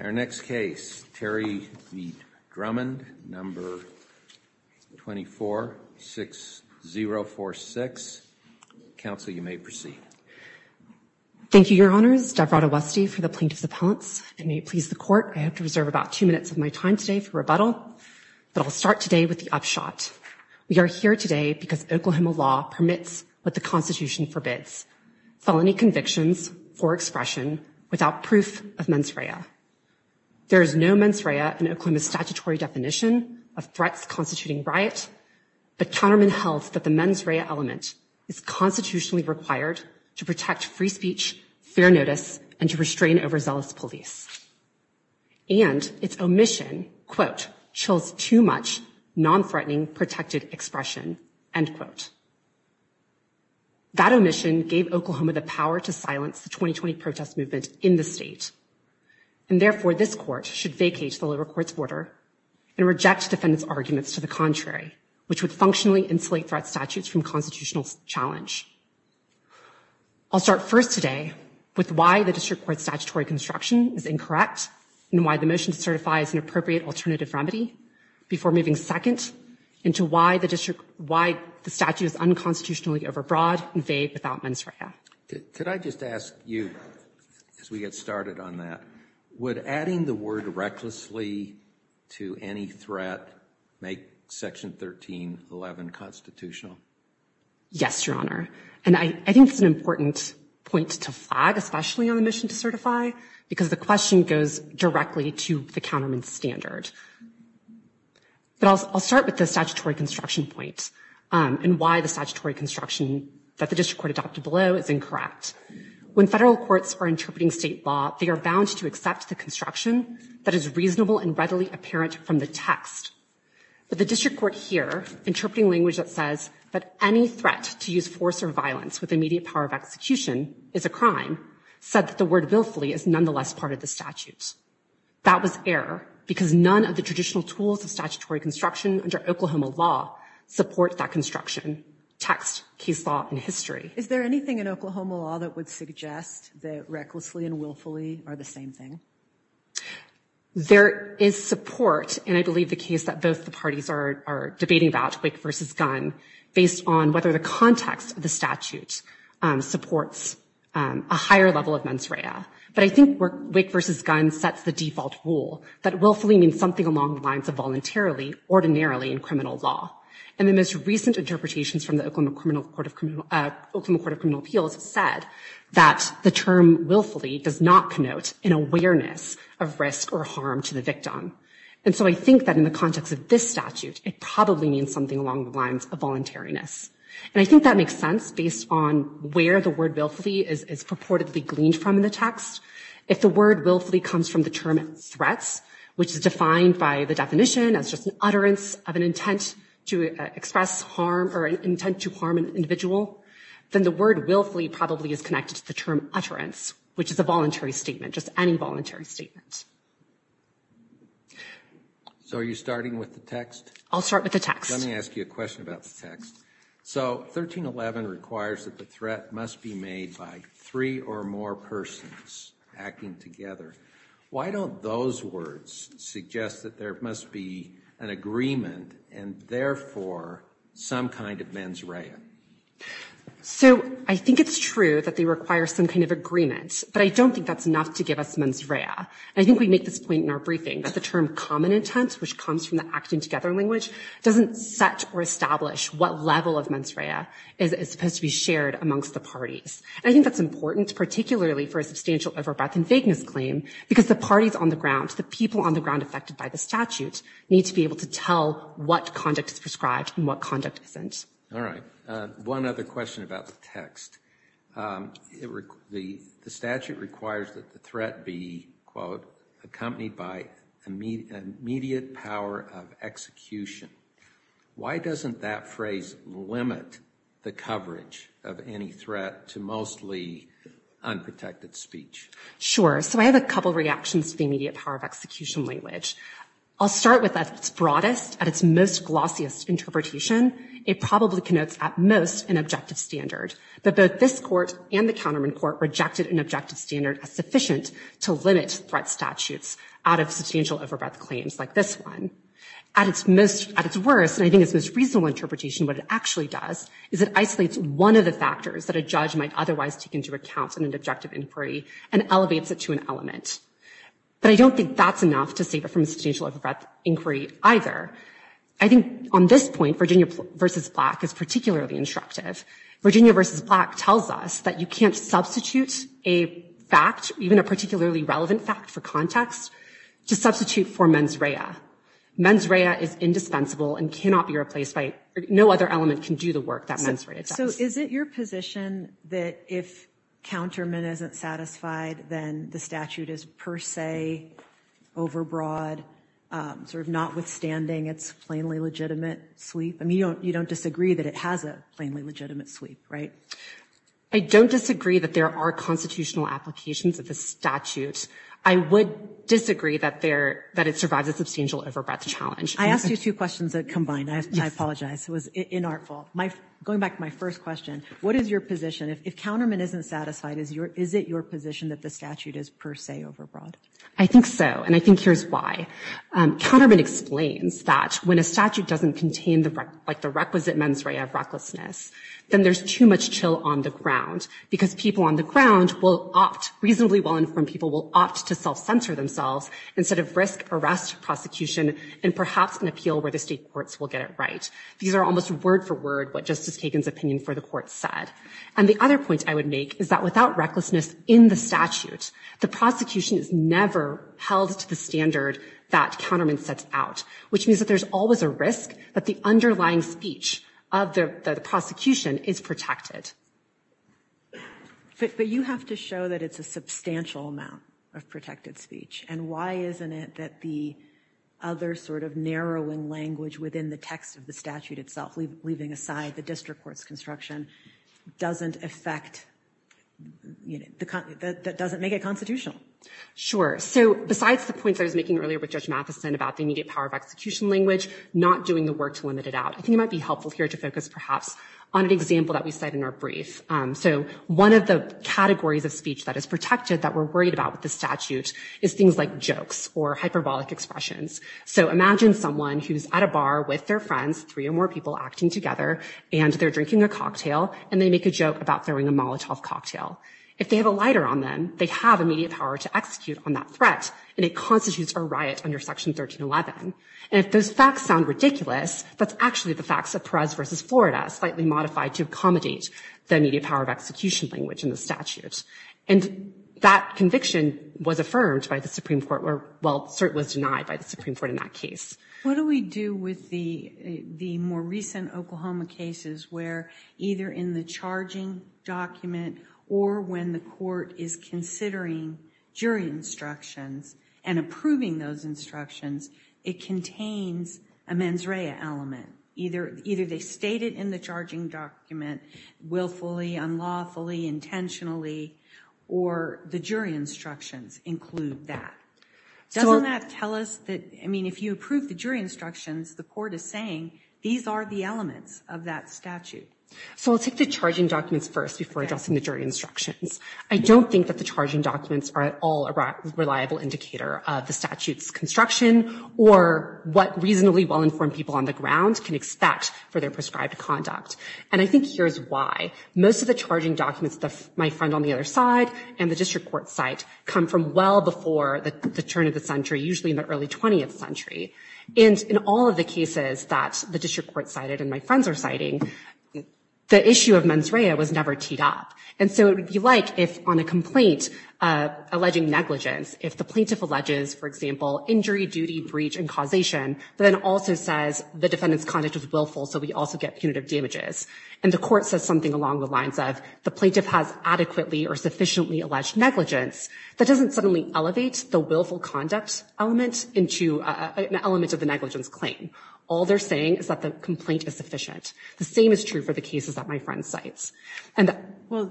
Our next case, Terry v. Drummond, number 246046. Counsel, you may proceed. Thank you, Your Honors. Devrata Westy for the plaintiff's appellants. It may please the court. I have to reserve about two minutes of my time today for rebuttal. But I'll start today with the upshot. We are here today because Oklahoma law permits what the Constitution forbids, felony convictions for expression without proof of mens rea. There is no mens rea in Oklahoma's statutory definition of threats constituting riot, but counterman held that the mens rea element is constitutionally required to protect free speech, fair notice, and to restrain overzealous police. And its omission, quote, chills too much non-threatening protected expression, end quote. That omission gave Oklahoma the power to silence the 2020 protest movement in the state. And therefore, this court should vacate the lower court's order and reject defendant's arguments to the contrary, which would functionally insulate threat statutes from constitutional challenge. I'll start first today with why the district court's statutory construction is incorrect and why the motion to certify is an appropriate alternative remedy before moving second into why the statute is unconstitutionally overbroad and vague without mens rea. Could I just ask you, as we get started on that, would adding the word recklessly to any threat make section 1311 constitutional? Yes, Your Honor. And I think it's an important point to flag, especially on the mission to certify, because the question goes directly to the counterman's standard. But I'll start with the statutory construction point and why the statutory construction that the district court adopted below is incorrect. When federal courts are interpreting state law, they are bound to accept the construction that is reasonable and readily apparent from the text. But the district court here, interpreting language that says that any threat to use force or violence with immediate power of execution is a crime, said that the word willfully is nonetheless part of the statute. That was error, because none of the traditional tools of statutory construction under Oklahoma law support that construction, text, case law, and history. Is there anything in Oklahoma law that would suggest that recklessly and willfully are the same thing? There is support, and I believe the case that both the parties are debating about, quick versus gun, based on whether the context of the statute supports a higher level of mens rea. But I think quick versus gun sets the default rule that willfully means something along the lines of voluntarily, ordinarily in criminal law. And the most recent interpretations from the Oklahoma Court of Criminal Appeals said that the term willfully does not connote an awareness of risk or harm to the victim. And so I think that in the context of this statute, it probably means something along the lines of voluntariness. And I think that makes sense based on where the word willfully is purportedly gleaned from in the text. If the word willfully comes from the term threats, which is defined by the definition as just an utterance of an intent to express harm or an intent to harm an individual, then the word willfully probably is connected to the term utterance, which is a voluntary statement, just any voluntary statement. So are you starting with the text? I'll start with the text. Let me ask you a question about the text. So 1311 requires that the threat must be made by three or more persons acting together. Why don't those words suggest that there must be an agreement and therefore some kind of mens rea? So I think it's true that they require some kind of agreement, but I don't think that's enough to give us mens rea. I think we make this point in our briefing that the term common intent, which comes from the acting together language, doesn't set or establish what level of mens rea is supposed to be shared amongst the parties. And I think that's important, particularly for a substantial overbreath and vagueness claim, because the parties on the ground, the people on the ground affected by the statute, need to be able to tell what conduct is prescribed and what conduct isn't. All right, one other question about the text. The statute requires that the threat be, quote, accompanied by immediate power of execution. Why doesn't that phrase limit the coverage of any threat to mostly unprotected speech? Sure, so I have a couple reactions to the immediate power of execution language. I'll start with at its broadest, at its most glossiest interpretation, it probably connotes at most an objective standard. But both this court and the counterman court rejected an objective standard as sufficient to limit threat statutes out of substantial overbreath claims like this one. At its worst, and I think its most reasonable interpretation, what it actually does is it isolates one of the factors that a judge might otherwise take into account in an objective inquiry and elevates it to an element. But I don't think that's enough to save it from a substantial overbreath inquiry either. I think on this point, Virginia v. Black is particularly instructive. Virginia v. Black tells us that you can't substitute a fact, even a particularly relevant fact for context, to substitute for mens rea. Mens rea is indispensable and cannot be replaced despite, no other element can do the work that mens rea does. So is it your position that if counterman isn't satisfied then the statute is per se overbroad, sort of notwithstanding its plainly legitimate sweep? I mean, you don't disagree that it has a plainly legitimate sweep, right? I don't disagree that there are constitutional applications of the statute. I would disagree that it survives a substantial overbreath challenge. I asked you two questions that combine. I apologize, it was inartful. Going back to my first question, what is your position? If counterman isn't satisfied, is it your position that the statute is per se overbroad? I think so, and I think here's why. Counterman explains that when a statute doesn't contain the requisite mens rea of recklessness then there's too much chill on the ground because people on the ground will opt, reasonably well-informed people will opt to self-censor themselves instead of risk arrest prosecution and perhaps an appeal where the state courts will get it right. These are almost word for word what Justice Kagan's opinion for the court said. And the other point I would make is that without recklessness in the statute, the prosecution is never held to the standard that counterman sets out, which means that there's always a risk that the underlying speech of the prosecution is protected. But you have to show that it's a substantial amount of protected speech, and why isn't it that the other sort of narrowing language within the text of the statute itself, leaving aside the district court's construction, doesn't affect, that doesn't make it constitutional? Sure, so besides the points I was making earlier with Judge Mathison about the immediate power of execution language, not doing the work to limit it out. I think it might be helpful here to focus perhaps on an example that we said in our brief. So one of the categories of speech that is protected that we're worried about with the statute is things like jokes or hyperbolic expressions. So imagine someone who's at a bar with their friends, three or more people acting together, and they're drinking a cocktail, and they make a joke about throwing a Molotov cocktail. If they have a lighter on them, they have immediate power to execute on that threat, and it constitutes a riot under Section 1311. And if those facts sound ridiculous, that's actually the facts of Perez versus Florida, slightly modified to accommodate the immediate power of execution language in the statute. And that conviction was affirmed by the Supreme Court, or well, certainly was denied by the Supreme Court in that case. What do we do with the more recent Oklahoma cases where either in the charging document or when the court is considering jury instructions and approving those instructions, it contains a mens rea element? Either they state it in the charging document, willfully, unlawfully, intentionally, or the jury instructions include that. Doesn't that tell us that, I mean, if you approve the jury instructions, the court is saying these are the elements of that statute. So I'll take the charging documents first before addressing the jury instructions. I don't think that the charging documents are at all a reliable indicator of the statute's construction or what reasonably well-informed people on the ground can expect for their prescribed conduct. And I think here's why. Most of the charging documents my friend on the other side and the district court cite come from well before the turn of the century, usually in the early 20th century. And in all of the cases that the district court cited and my friends are citing, the issue of mens rea was never teed up. And so it would be like if on a complaint alleging negligence, if the plaintiff alleges, for example, injury, duty, breach, and causation, but then also says the defendant's conduct was willful, so we also get punitive damages. And the court says something along the lines of the plaintiff has adequately or sufficiently alleged negligence. That doesn't suddenly elevate the willful conduct element into an element of the negligence claim. All they're saying is that the complaint is sufficient. The same is true for the cases that my friend cites. Well,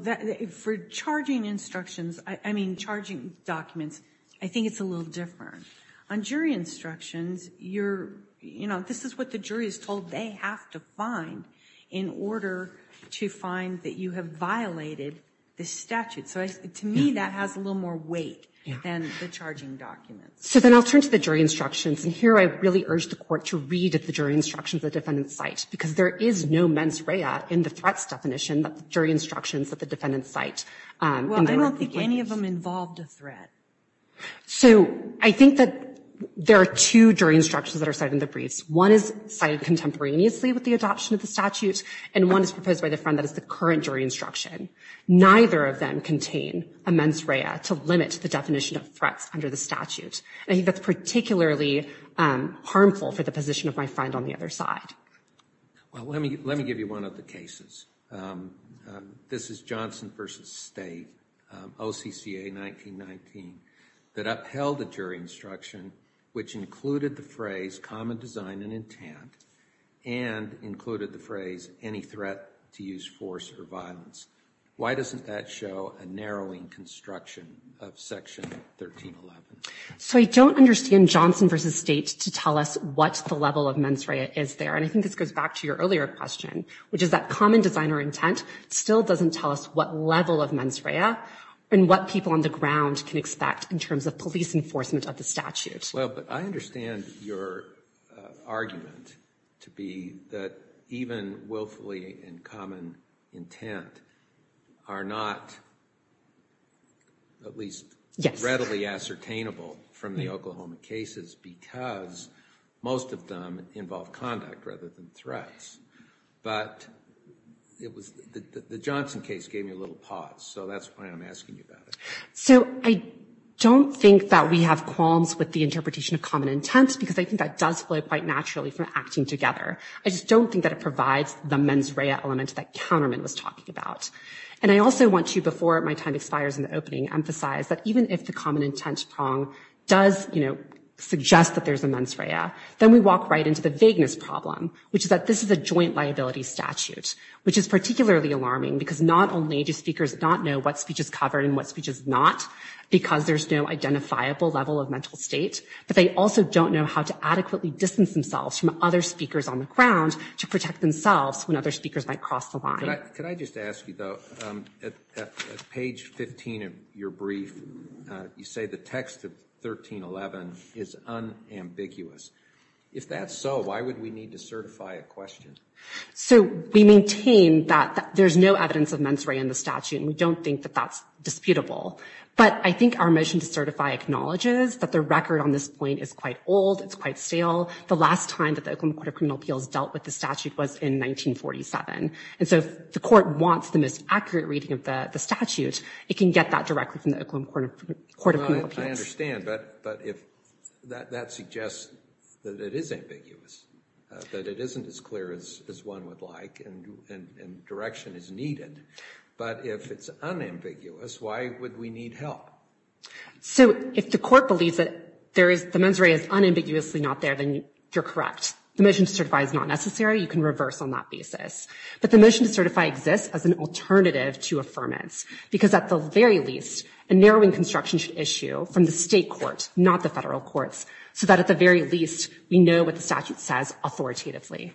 for charging instructions, I mean, charging documents, I think it's a little different. On jury instructions, this is what the jury is told they have to find in order to find that you have violated the statute. So to me, that has a little more weight than the charging documents. So then I'll turn to the jury instructions. And here I really urge the court to read at the jury instructions of the defendant's site, because there is no mens rea in the threats definition that the jury instructions that the defendant cite. Well, I don't think any of them involved a threat. So I think that there are two jury instructions that are cited in the briefs. One is cited contemporaneously with the adoption of the statute, and one is proposed by the friend that is the current jury instruction. Neither of them contain a mens rea to limit the definition of threats under the statute. I think that's particularly harmful for the position of my friend on the other side. Well, let me give you one of the cases. This is Johnson v. State, OCCA 1919, that upheld the jury instruction, which included the phrase common design and intent, and included the phrase any threat to use force or violence. Why doesn't that show a narrowing construction of section 1311? So I don't understand Johnson v. State to tell us what the level of mens rea is there. And I think this goes back to your earlier question, which is that common design or intent still doesn't tell us what level of mens rea and what people on the ground can expect in terms of police enforcement of the statute. Well, but I understand your argument to be that even willfully and common intent are not at least readily ascertainable from the Oklahoma cases, because most of them involve conduct rather than threats. But the Johnson case gave me a little pause, so that's why I'm asking you about it. So I don't think that we have qualms with the interpretation of common intent, because I think that does flow quite naturally from acting together. I just don't think that it provides the mens rea element that Counterman was talking about. And I also want to, before my time expires in the opening, emphasize that even if the common intent prong does suggest that there's a mens rea, then we walk right into the vagueness problem, which is that this is a joint liability statute, which is particularly alarming, because not only do speakers not know what speech is covered and what speech is not, because there's no identifiable level of mental state, but they also don't know how to adequately distance themselves from other speakers on the ground to protect themselves when other speakers might cross the line. Could I just ask you, though, at page 15 of your brief, you say the text of 1311 is unambiguous. If that's so, why would we need to certify a question? So we maintain that there's no evidence of mens rea in the statute, and we don't think that that's disputable. But I think our motion to certify acknowledges that the record on this point is quite old, it's quite stale. The last time that the Oklahoma Court of Criminal Appeals dealt with the statute was in 1947. And so if the court wants the most accurate reading of the statute, it can get that directly from the Oklahoma Court of Criminal Appeals. I understand, but that suggests that it is ambiguous, that it isn't as clear as one would like, and direction is needed. But if it's unambiguous, why would we need help? So if the court believes that there is, the mens rea is unambiguously not there, then you're correct. The motion to certify is not necessary, you can reverse on that basis. But the motion to certify exists as an alternative to affirmance, because at the very least, a narrowing construction should issue from the state court, not the federal courts, so that at the very least, we know what the statute says authoritatively.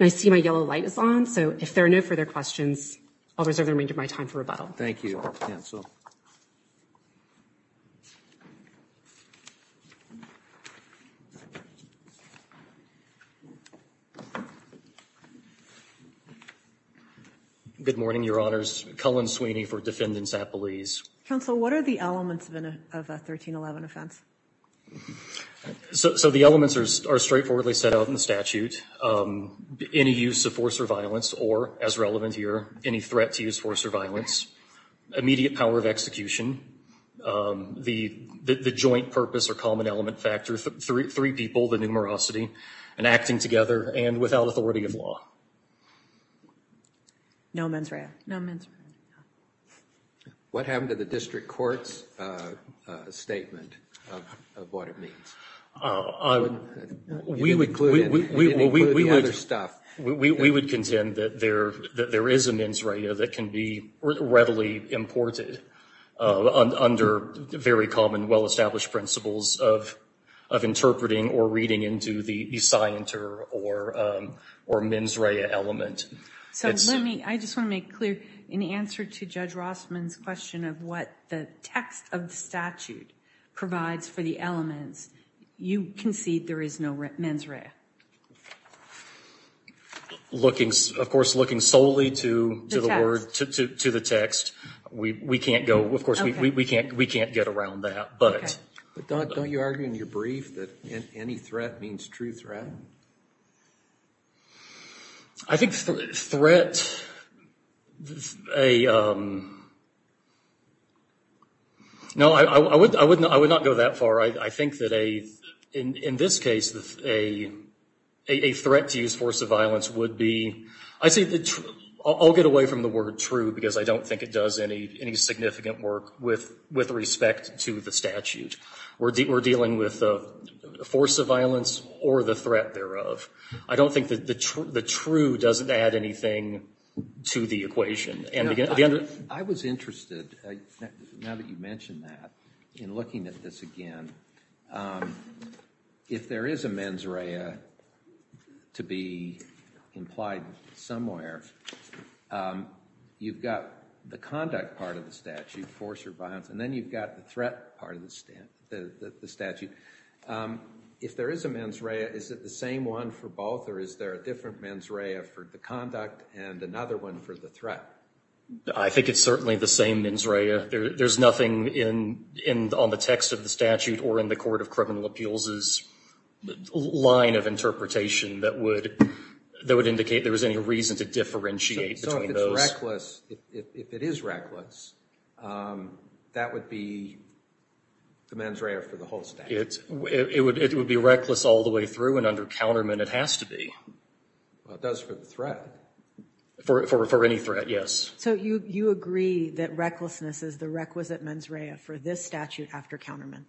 I see my yellow light is on, so if there are no further questions, I'll reserve the remainder of my time for rebuttal. Thank you, counsel. Good morning, your honors. Cullen Sweeney for Defendant's Appellees. Counsel, what are the elements of a 1311 offense? So the elements are straightforwardly set out in the statute. Any use of force or violence, or, as relevant here, any threat to use force or violence, immediate power of execution, the joint purpose or common element factor, three people, the numerosity, and acting together, and without authority of law. No mens rea. No mens rea. What happened to the district court's statement of what it means? You didn't include the other stuff. We would contend that there is a mens rea that can be readily imported under very common, well-established principles of interpreting or reading into the scienter or mens rea element. So let me, I just want to make clear, in answer to Judge Rossman's question of what the text of the statute provides for the elements, you concede there is no mens rea. Looking, of course, looking solely to the word, to the text, we can't go, of course, we can't get around that, but. But don't you argue in your brief that any threat means true threat? I think threat, no, I would not go that far. I think that a, in this case, a threat to use force of violence would be, I see, I'll get away from the word true because I don't think it does any significant work with respect to the statute. We're dealing with a force of violence or the threat thereof. I don't think that the true doesn't add anything to the equation, and again. I was interested, now that you mention that, in looking at this again, if there is a mens rea to be implied somewhere, you've got the conduct part of the statute, force or violence, and then you've got the threat part of the statute. If there is a mens rea, is it the same one for both, or is there a different mens rea for the conduct and another one for the threat? I think it's certainly the same mens rea. There's nothing on the text of the statute or in the Court of Criminal Appeals's line of interpretation that would indicate there was any reason to differentiate between those. So if it's reckless, if it is reckless, that would be the mens rea for the whole statute? It would be reckless all the way through, and under countermeasure, it has to be. Well, it does for the threat. For any threat, yes. So you agree that recklessness is the requisite mens rea for this statute after countermeasure?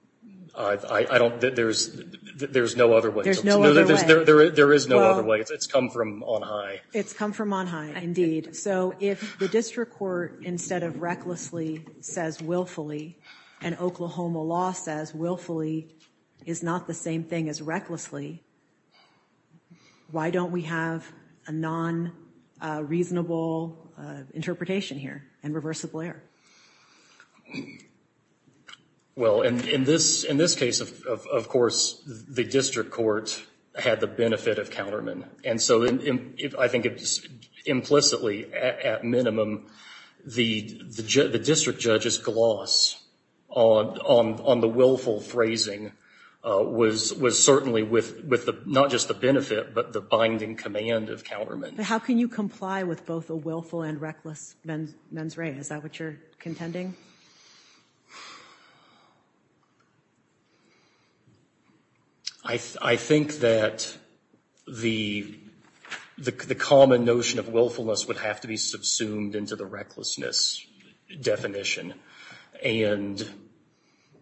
I don't, there's no other way. There's no other way. There is no other way, it's come from on high. It's come from on high, indeed. So if the district court, instead of recklessly, says willfully, and Oklahoma law says willfully is not the same thing as recklessly, why don't we have a non-reasonable interpretation here and reverse the blair? Well, in this case, of course, the district court had the benefit of countermen. And so I think implicitly, at minimum, the district judge's gloss on the willful phrasing was certainly with not just the benefit, but the binding command of countermen. How can you comply with both a willful and reckless mens rea, is that what you're contending? I think that the common notion of willfulness would have to be subsumed into the recklessness definition. And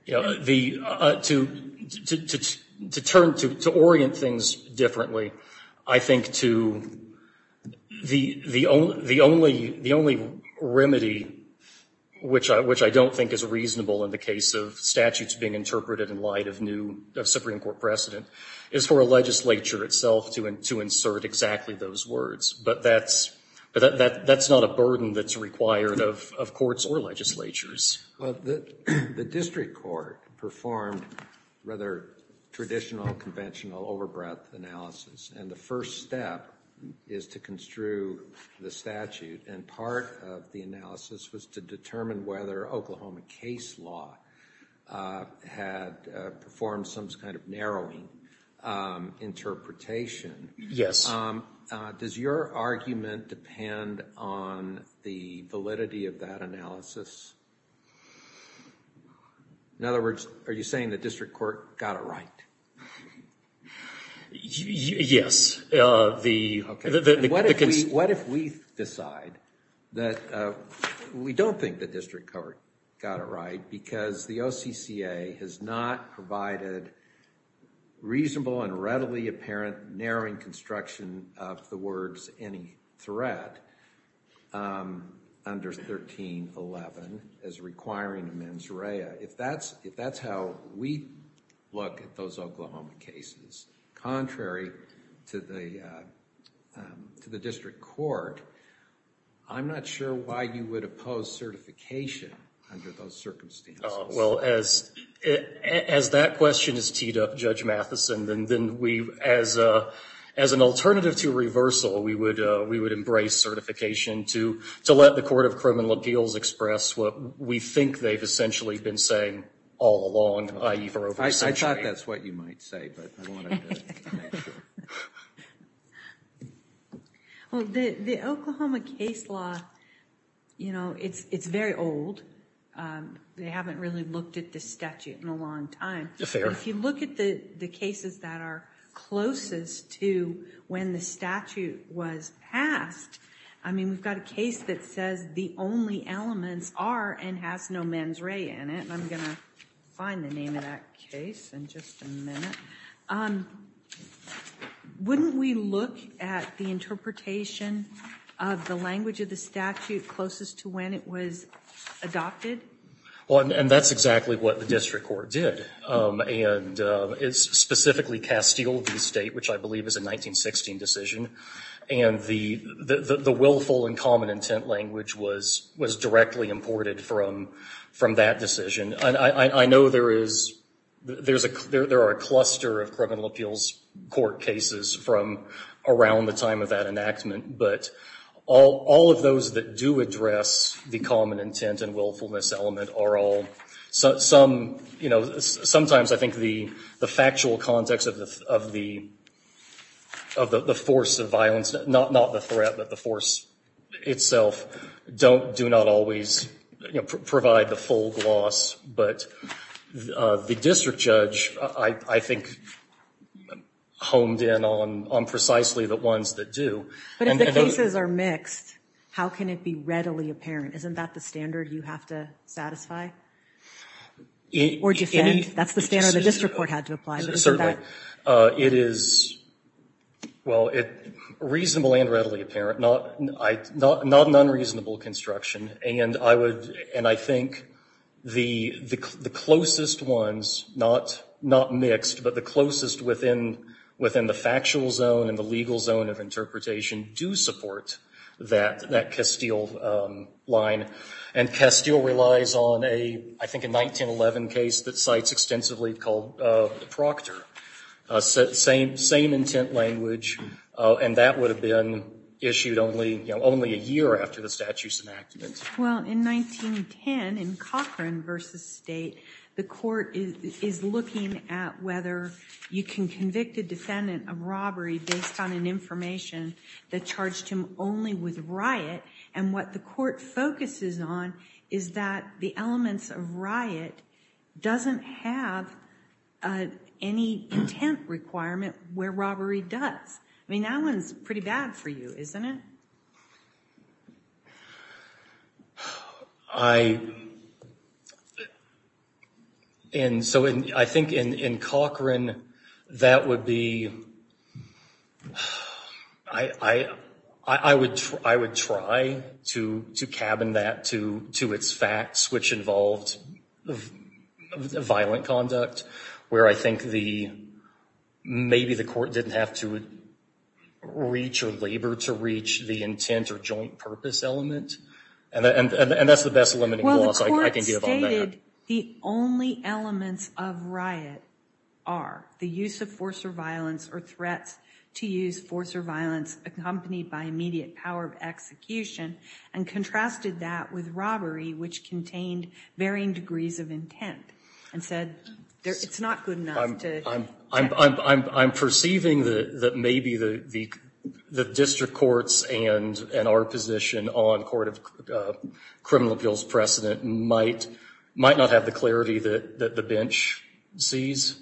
to orient things differently, I think the only remedy, which I don't think is reasonable in the case of statutes being interpreted in light of new Supreme Court precedent, is for a legislature itself to insert exactly those words. But that's not a burden that's required of courts or legislatures. Well, the district court performed rather traditional, conventional, over-breath analysis. And the first step is to construe the statute. And part of the analysis was to determine whether Oklahoma case law had performed some kind of narrowing interpretation. Yes. Does your argument depend on the validity of that analysis? In other words, are you saying the district court got it right? Yes. What if we decide that we don't think the district court got it right because the OCCA has not provided reasonable and readily apparent narrowing construction of the words any threat under 1311 as requiring a mens rea? If that's how we look at those Oklahoma cases, contrary to the district court, I'm not sure why you would oppose certification under those circumstances. Well, as that question is teed up, Judge Matheson, then we, as an alternative to reversal, we would embrace certification to let the Court of Criminal Appeals express what we think they've essentially been saying all along, i.e. for over a century. I thought that's what you might say, but I wanted to make sure. Well, the Oklahoma case law, it's very old. They haven't really looked at this statute in a long time. Yes, they are. If you look at the cases that are closest to when the statute was passed, I mean, we've got a case that says the only elements are and has no mens rea in it, and I'm gonna find the name of that case in just a minute. Wouldn't we look at the interpretation of the language of the statute closest to when it was adopted? Well, and that's exactly what the district court did, and it's specifically Castile v. State, which I believe is a 1916 decision, and the willful and common intent language was directly imported from that decision. I know there are a cluster of criminal appeals court cases from around the time of that enactment, but all of those that do address the common intent and willfulness element are all, sometimes I think the factual context of the force of violence, not the threat, but the force itself, do not always provide the full gloss, but the district judge, I think, honed in on precisely the ones that do. But if the cases are mixed, how can it be readily apparent? Isn't that the standard you have to satisfy? Or defend? That's the standard the district court had to apply. It is, well, reasonable and readily apparent. Not an unreasonable construction, and I think the closest ones, not mixed, but the closest within the factual zone and the legal zone of interpretation do support that Castile line. And Castile relies on, I think, a 1911 case that cites extensively called the Proctor. Same intent language, and that would have been issued only a year after the statute's enactment. Well, in 1910, in Cochran v. State, the court is looking at whether you can convict a defendant of robbery based on an information that charged him only with riot, and what the court focuses on is that the elements of riot doesn't have any intent requirement where robbery does. I mean, that one's pretty bad for you, isn't it? I, and so I think in Cochran, that would be, I would try to cabin that to its facts, which involved violent conduct, where I think the, maybe the court didn't have to reach or labor to reach the intent or joint purpose element, and that's the best limiting clause I can give on that. Well, the court stated the only elements of riot are the use of force or violence or threats to use force or violence accompanied by immediate power of execution, and contrasted that with robbery, which contained varying degrees of intent, and said it's not good enough to. I'm perceiving that maybe the district courts and our position on Court of Criminal Appeals precedent might not have the clarity that the bench sees.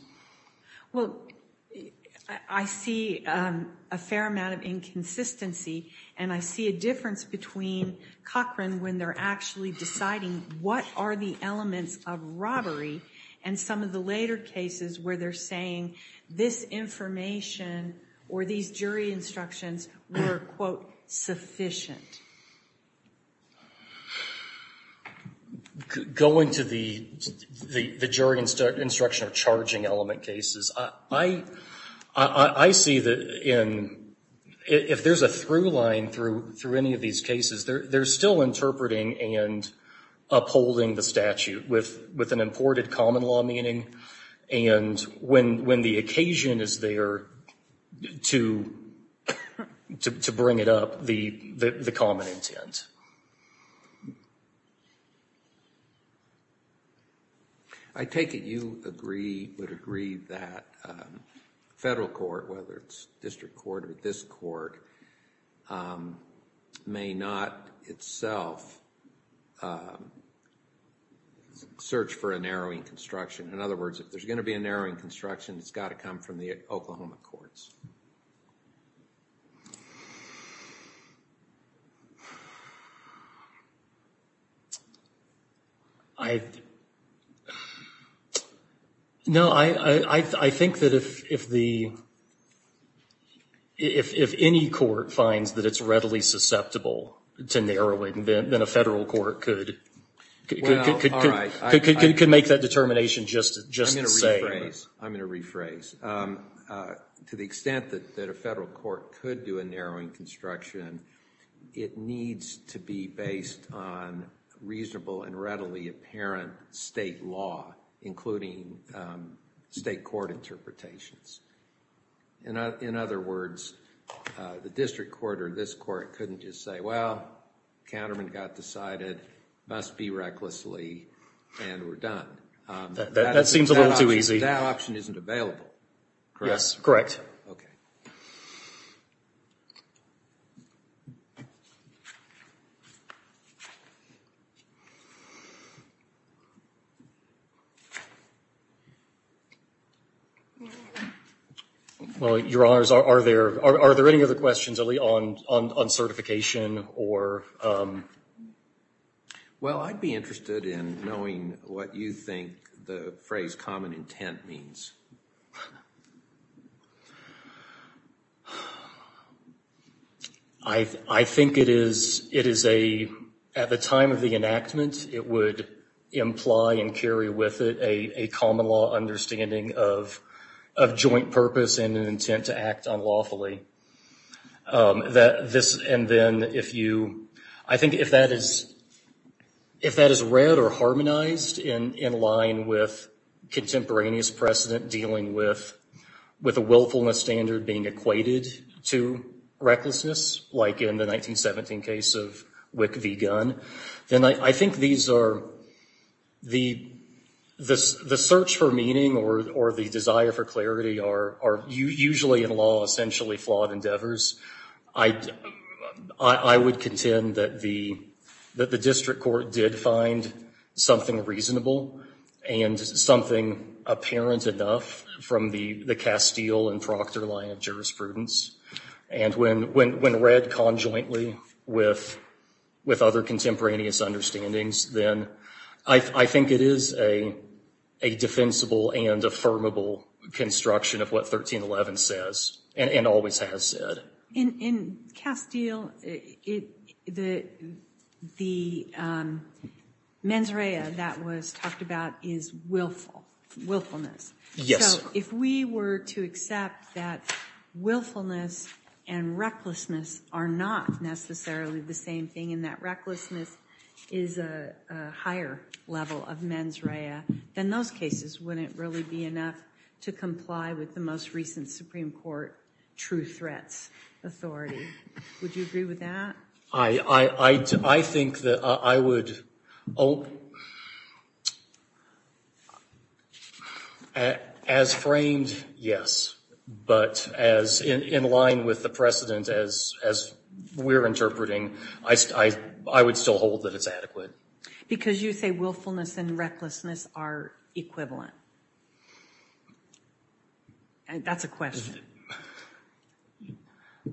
Well, I see a fair amount of inconsistency, and I see a difference between Cochran when they're actually deciding what are the elements of robbery, and some of the later cases where they're saying this information or these jury instructions were, quote, sufficient. Going to the jury instruction or charging element cases, I see that in, if there's a through line through any of these cases, they're still interpreting and upholding the statute with an imported common law meaning, and when the occasion is there to bring it up, the common intent. I take it you would agree that federal court, whether it's district court or this court, may not itself search for a narrowing construction. In other words, if there's gonna be a narrowing construction, it's gotta come from the Oklahoma courts. No, I think that if any court finds that it's readily susceptible to narrowing, then a federal court could make that determination just the same. I'm gonna rephrase. To the extent that a federal court could do a narrowing construction, it needs to be based on reasonable and readily apparent state law, including state court interpretations. In other words, the district court or this court couldn't just say, well, counterman got decided, must be recklessly, and we're done. That seems a little too easy. That option isn't available, correct? Yes, correct. Okay. Well, your honors, are there any other questions, Elie, on certification or? Well, I'd be interested in knowing what you think the phrase common intent means. I think it is a, at the time of the enactment, it would imply and carry with it a common law understanding of joint purpose and an intent to act unlawfully. And then if you, I think if that is read or harmonized in line with contemporaneous precedent dealing with a willfulness standard being equated to recklessness, like in the 1917 case of Wick v. Gunn, then I think these are, the search for meaning or the desire for clarity are usually in law essentially flawed endeavors. I would contend that the district court did find something reasonable and something apparent enough from the Castile and Proctor line of jurisprudence. And when read conjointly with other contemporaneous understandings, then I think it is a defensible and affirmable construction of what 1311 says and always has said. In Castile, the mens rea that was talked about is willful, willfulness. Yes. So if we were to accept that willfulness and recklessness are not necessarily the same thing and that recklessness is a higher level of mens rea, then those cases wouldn't really be enough to comply with the most recent Supreme Court true threats authority. Would you agree with that? I think that I would, as framed, yes. But as in line with the precedent as we're interpreting, I would still hold that it's adequate. Because you say willfulness and recklessness are equivalent. And that's a question.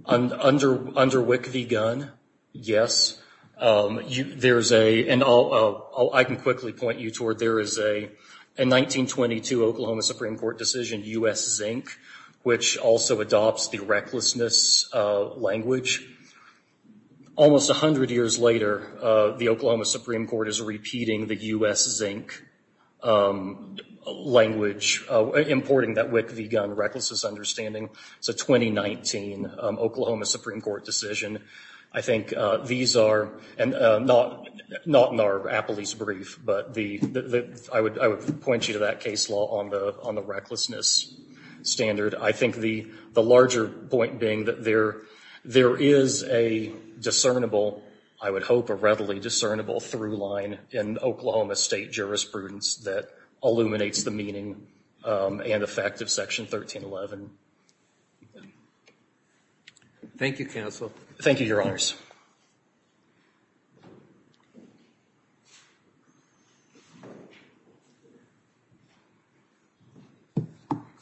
Under WIC v. Gunn, yes. There's a, and I can quickly point you toward, there is a 1922 Oklahoma Supreme Court decision, U.S. Zinc, which also adopts the recklessness language. Almost 100 years later, the Oklahoma Supreme Court is repeating the U.S. Zinc language, importing that WIC v. Gunn recklessness understanding. It's a 2019 Oklahoma Supreme Court decision. I think these are, and not in our appellee's brief, but I would point you to that case law on the recklessness standard. I think the larger point being that there is a discernible, I would hope a readily discernible through line in Oklahoma state jurisprudence that illuminates the meaning and effect of section 1311. Thank you, counsel. Thank you, your honors. Thank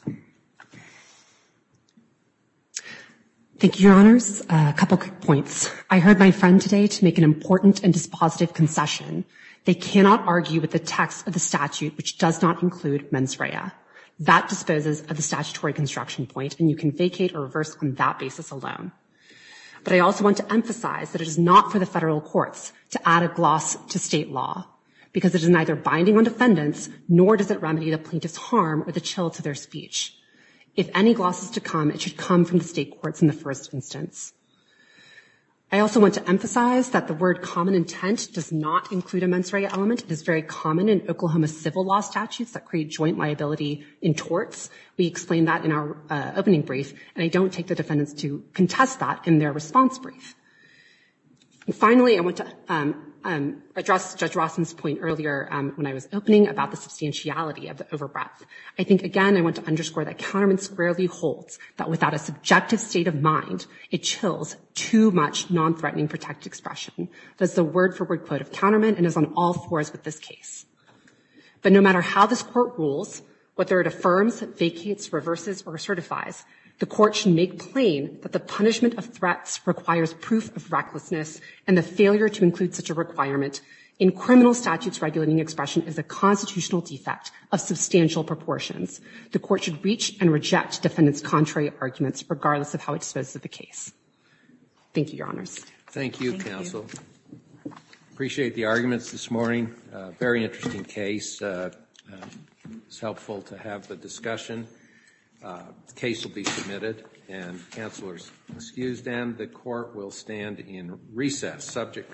you. Thank you, your honors. A couple quick points. I heard my friend today to make an important and dispositive concession. They cannot argue with the text of the statute which does not include mens rea. That disposes of the statutory construction point, and you can vacate or reverse on that basis alone. But I also want to emphasize that it is not for the federal courts to add a gloss to state law because it is neither binding on defendants, nor does it remedy the plaintiff's harm or the chill to their speech. If any gloss is to come, it should come from the state courts in the first instance. I also want to emphasize that the word common intent does not include a mens rea element. It is very common in Oklahoma civil law statutes that create joint liability in torts. We explained that in our opening brief, and I don't take the defendants to contest that in their response brief. Finally, I want to address Judge Rossman's point earlier when I was opening about the substantiality of the over-breath. I think, again, I want to underscore that counterman squarely holds that without a subjective state of mind, it chills too much non-threatening protect expression that's the word for word quote of counterman and is on all fours with this case. But no matter how this court rules, whether it affirms, vacates, reverses, or certifies, the court should make plain that the punishment of threats requires proof of recklessness and the failure to include such a requirement in criminal statutes regulating expression is a constitutional defect of substantial proportions. The court should reach and reject defendants' contrary arguments regardless of how it disposes of the case. Thank you, your honors. Thank you, counsel. Appreciate the arguments this morning. Very interesting case. It's helpful to have the discussion. The case will be submitted and counselors excused. And the court will stand in recess subject.